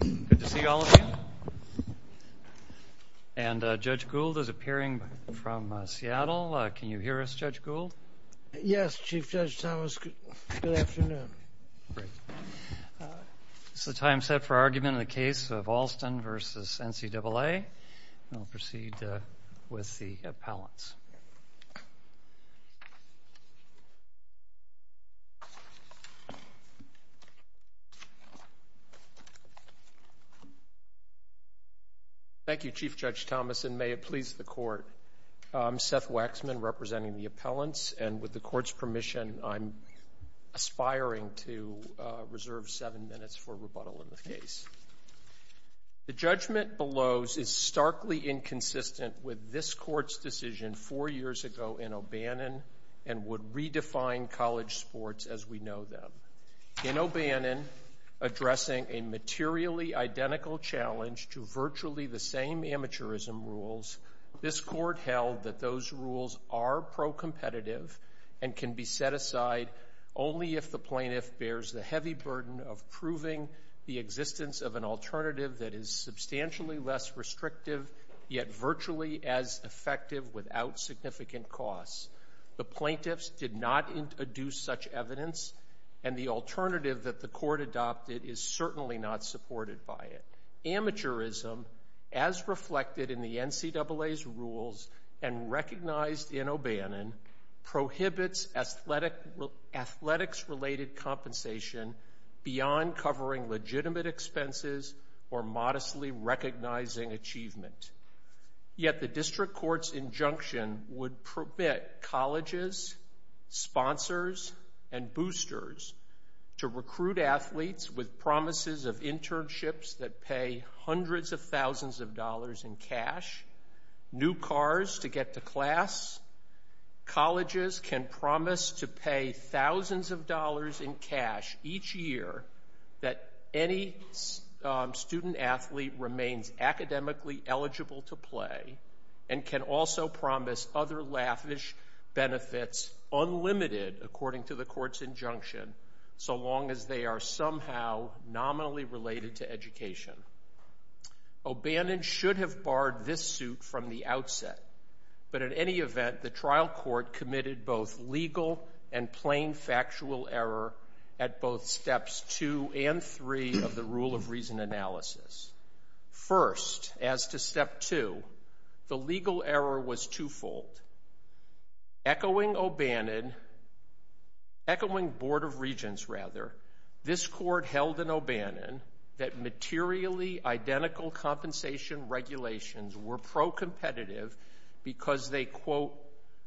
Good to see all of you. And Judge Gould is appearing from Seattle. Can you hear us, Judge Gould? Yes, Chief Judge Thomas. Good afternoon. Is the time set for argument in the case of Alston v. NCAA? We'll proceed with the appellants. Thank you, Chief Judge Thomas, and may it please the Court. I'm Seth Waxman representing the appellants. And with the Court's permission, I'm aspiring to reserve seven minutes for rebuttal in the case. The judgment below is starkly inconsistent with this Court's decision four years ago in O'Bannon and would redefine college sports as we know them. In O'Bannon, addressing a materially identical challenge to virtually the same amateurism rules, this Court held that those rules are pro-competitive and can be set aside only if the plaintiff bears the heavy burden of proving the existence of an alternative that is substantially less restrictive yet virtually as effective without significant costs. The plaintiffs did not introduce such evidence, and the alternative that the Court adopted is certainly not supported by it. Amateurism, as reflected in the NCAA's rules and recognized in O'Bannon, prohibits athletics-related compensation beyond covering legitimate expenses or modestly recognizing achievement. Yet the district court's injunction would permit colleges, sponsors, and boosters to recruit athletes with promises of internships that pay hundreds of thousands of dollars in cash, new cars to get to class. Colleges can promise to pay thousands of dollars in cash each year that any student athlete remains academically eligible to play and can also promise other lavish benefits unlimited, according to the Court's injunction, so long as they are somehow nominally related to education. O'Bannon should have barred this suit from the outset, but in any event, the trial court committed both legal and plain factual error at both steps two and three of the rule of reason analysis. First, as to step two, the legal error was twofold. Echoing O'Bannon, echoing Board of Regents rather, this Court held in O'Bannon that materially identical compensation regulations were pro-competitive because they, quote,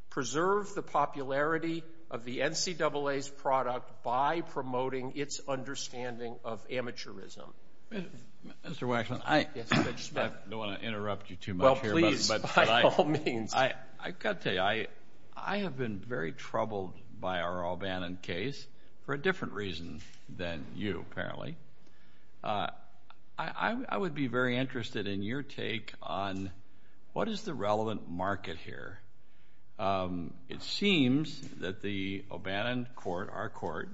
preserved the popularity of the NCAA's product by promoting its understanding of amateurism. Mr. Waxman, I don't want to interrupt you too much here. Well, please, by all means. I've got to tell you, I have been very troubled by our O'Bannon case for a different reason than you, apparently. I would be very interested in your take on what is the relevant market here. It seems that the O'Bannon court, our court,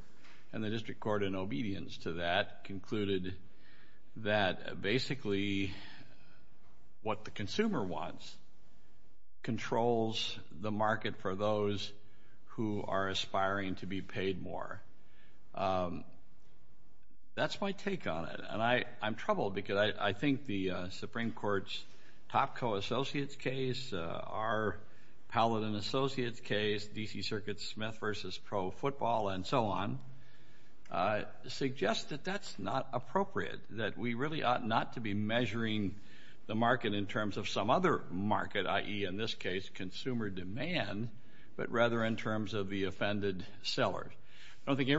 and the district court in obedience to that concluded that basically what the consumer wants controls the market for those who are aspiring to be paid more. That's my take on it, and I'm troubled because I think the Supreme Court's Topco Associates case, our Paladin Associates case, D.C. Circuit Smith v. Pro Football, and so on, suggest that that's not appropriate, that we really ought not to be measuring the market in terms of some other market, i.e., in this case, consumer demand, but rather in terms of the offended seller. I don't think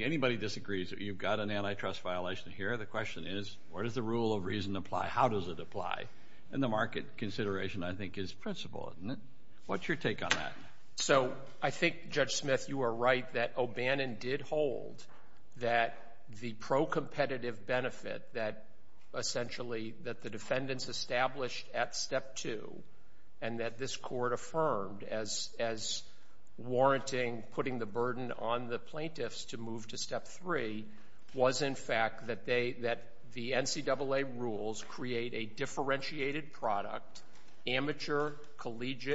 anybody disagrees that you've got an antitrust violation here. The question is, where does the rule of reason apply? How does it apply? And the market consideration, I think, is principal, isn't it? What's your take on that? So I think, Judge Smith, you are right that O'Bannon did hold that the pro-competitive benefit that essentially that the defendants established at Step 2 and that this court affirmed as warranting putting the burden on the plaintiffs to move to Step 3 was, in fact, that the NCAA rules create a differentiated product, amateur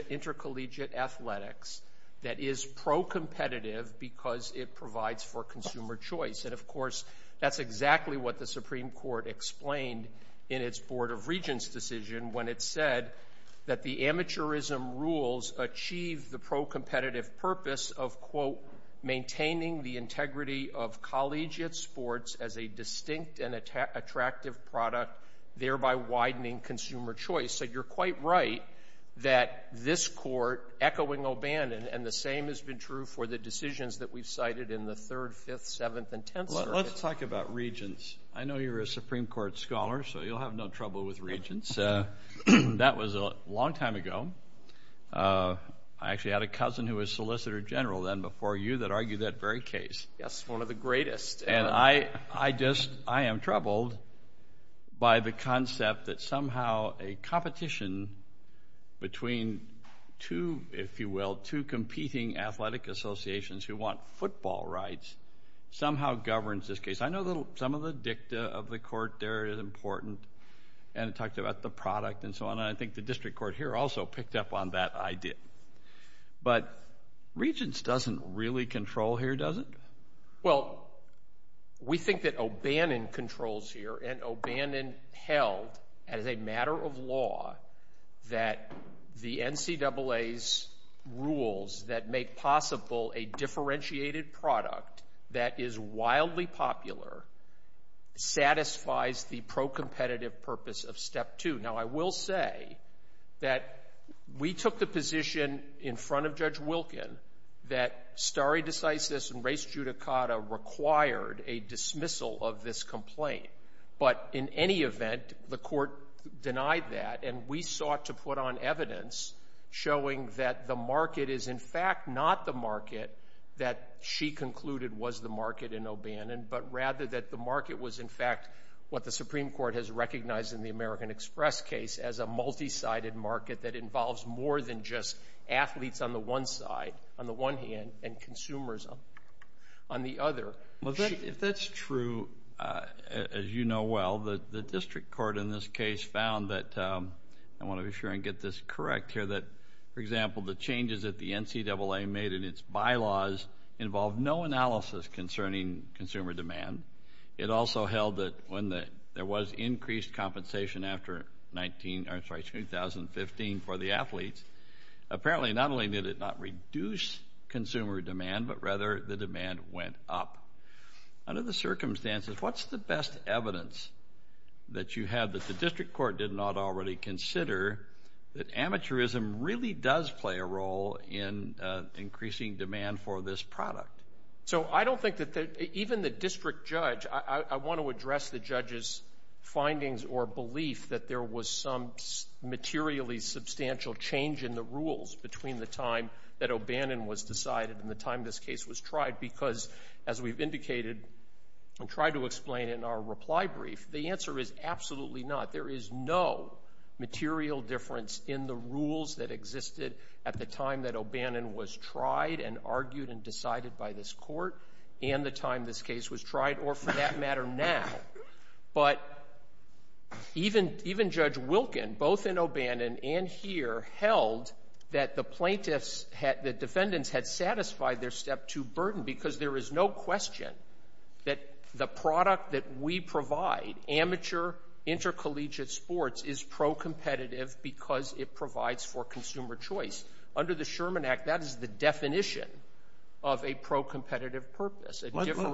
intercollegiate athletics, that is pro-competitive because it provides for consumer choice. And, of course, that's exactly what the Supreme Court explained in its Board of Regents decision when it said that the amateurism rules achieve the pro-competitive purpose of, quote, maintaining the integrity of collegiate sports as a distinct and attractive product, thereby widening consumer choice. So you're quite right that this court, echoing O'Bannon, and the same has been true for the decisions that we've cited in the third, fifth, seventh, and tenth circuits. Let's talk about regents. I know you're a Supreme Court scholar, so you'll have no trouble with regents. That was a long time ago. I actually had a cousin who was Solicitor General then before you that argued that very case. Yes, one of the greatest. And I just am troubled by the concept that somehow a competition between two, if you will, two competing athletic associations who want football rights somehow governs this case. I know some of the dicta of the court there is important, and it talked about the product and so on, and I think the district court here also picked up on that idea. But regents doesn't really control here, does it? Well, we think that O'Bannon controls here, and O'Bannon held as a matter of law that the NCAA's rules that make possible a differentiated product that is wildly popular satisfies the pro-competitive purpose of step two. Now, I will say that we took the position in front of Judge Wilkin that stare decisis and res judicata required a dismissal of this complaint. But in any event, the court denied that, and we sought to put on evidence showing that the market is in fact not the market that she concluded was the market in O'Bannon, but rather that the market was in fact what the Supreme Court has recognized in the American Express case as a multi-sided market that involves more than just athletes on the one side, on the one hand, and consumers on the other. If that's true, as you know well, the district court in this case found that, I want to be sure and get this correct here, that, for example, the changes that the NCAA made in its bylaws involved no analysis concerning consumer demand. It also held that when there was increased compensation after 2015 for the athletes, apparently not only did it not reduce consumer demand, but rather the demand went up. Under the circumstances, what's the best evidence that you have that the district court did not already consider that amateurism really does play a role in increasing demand for this product? So I don't think that even the district judge, I want to address the judge's findings or belief that there was some materially substantial change in the rules between the time that O'Bannon was decided and the time this case was tried because, as we've indicated and tried to explain in our reply brief, the answer is absolutely not. There is no material difference in the rules that existed at the time that O'Bannon was tried and argued and decided by this court and the time this case was tried or, for that matter, now. But even Judge Wilkin, both in O'Bannon and here, held that the plaintiffs, the defendants had satisfied their Step 2 burden because there is no question that the product that we provide, amateur intercollegiate sports, is pro-competitive because it provides for consumer choice. Under the Sherman Act, that is the definition of a pro-competitive purpose.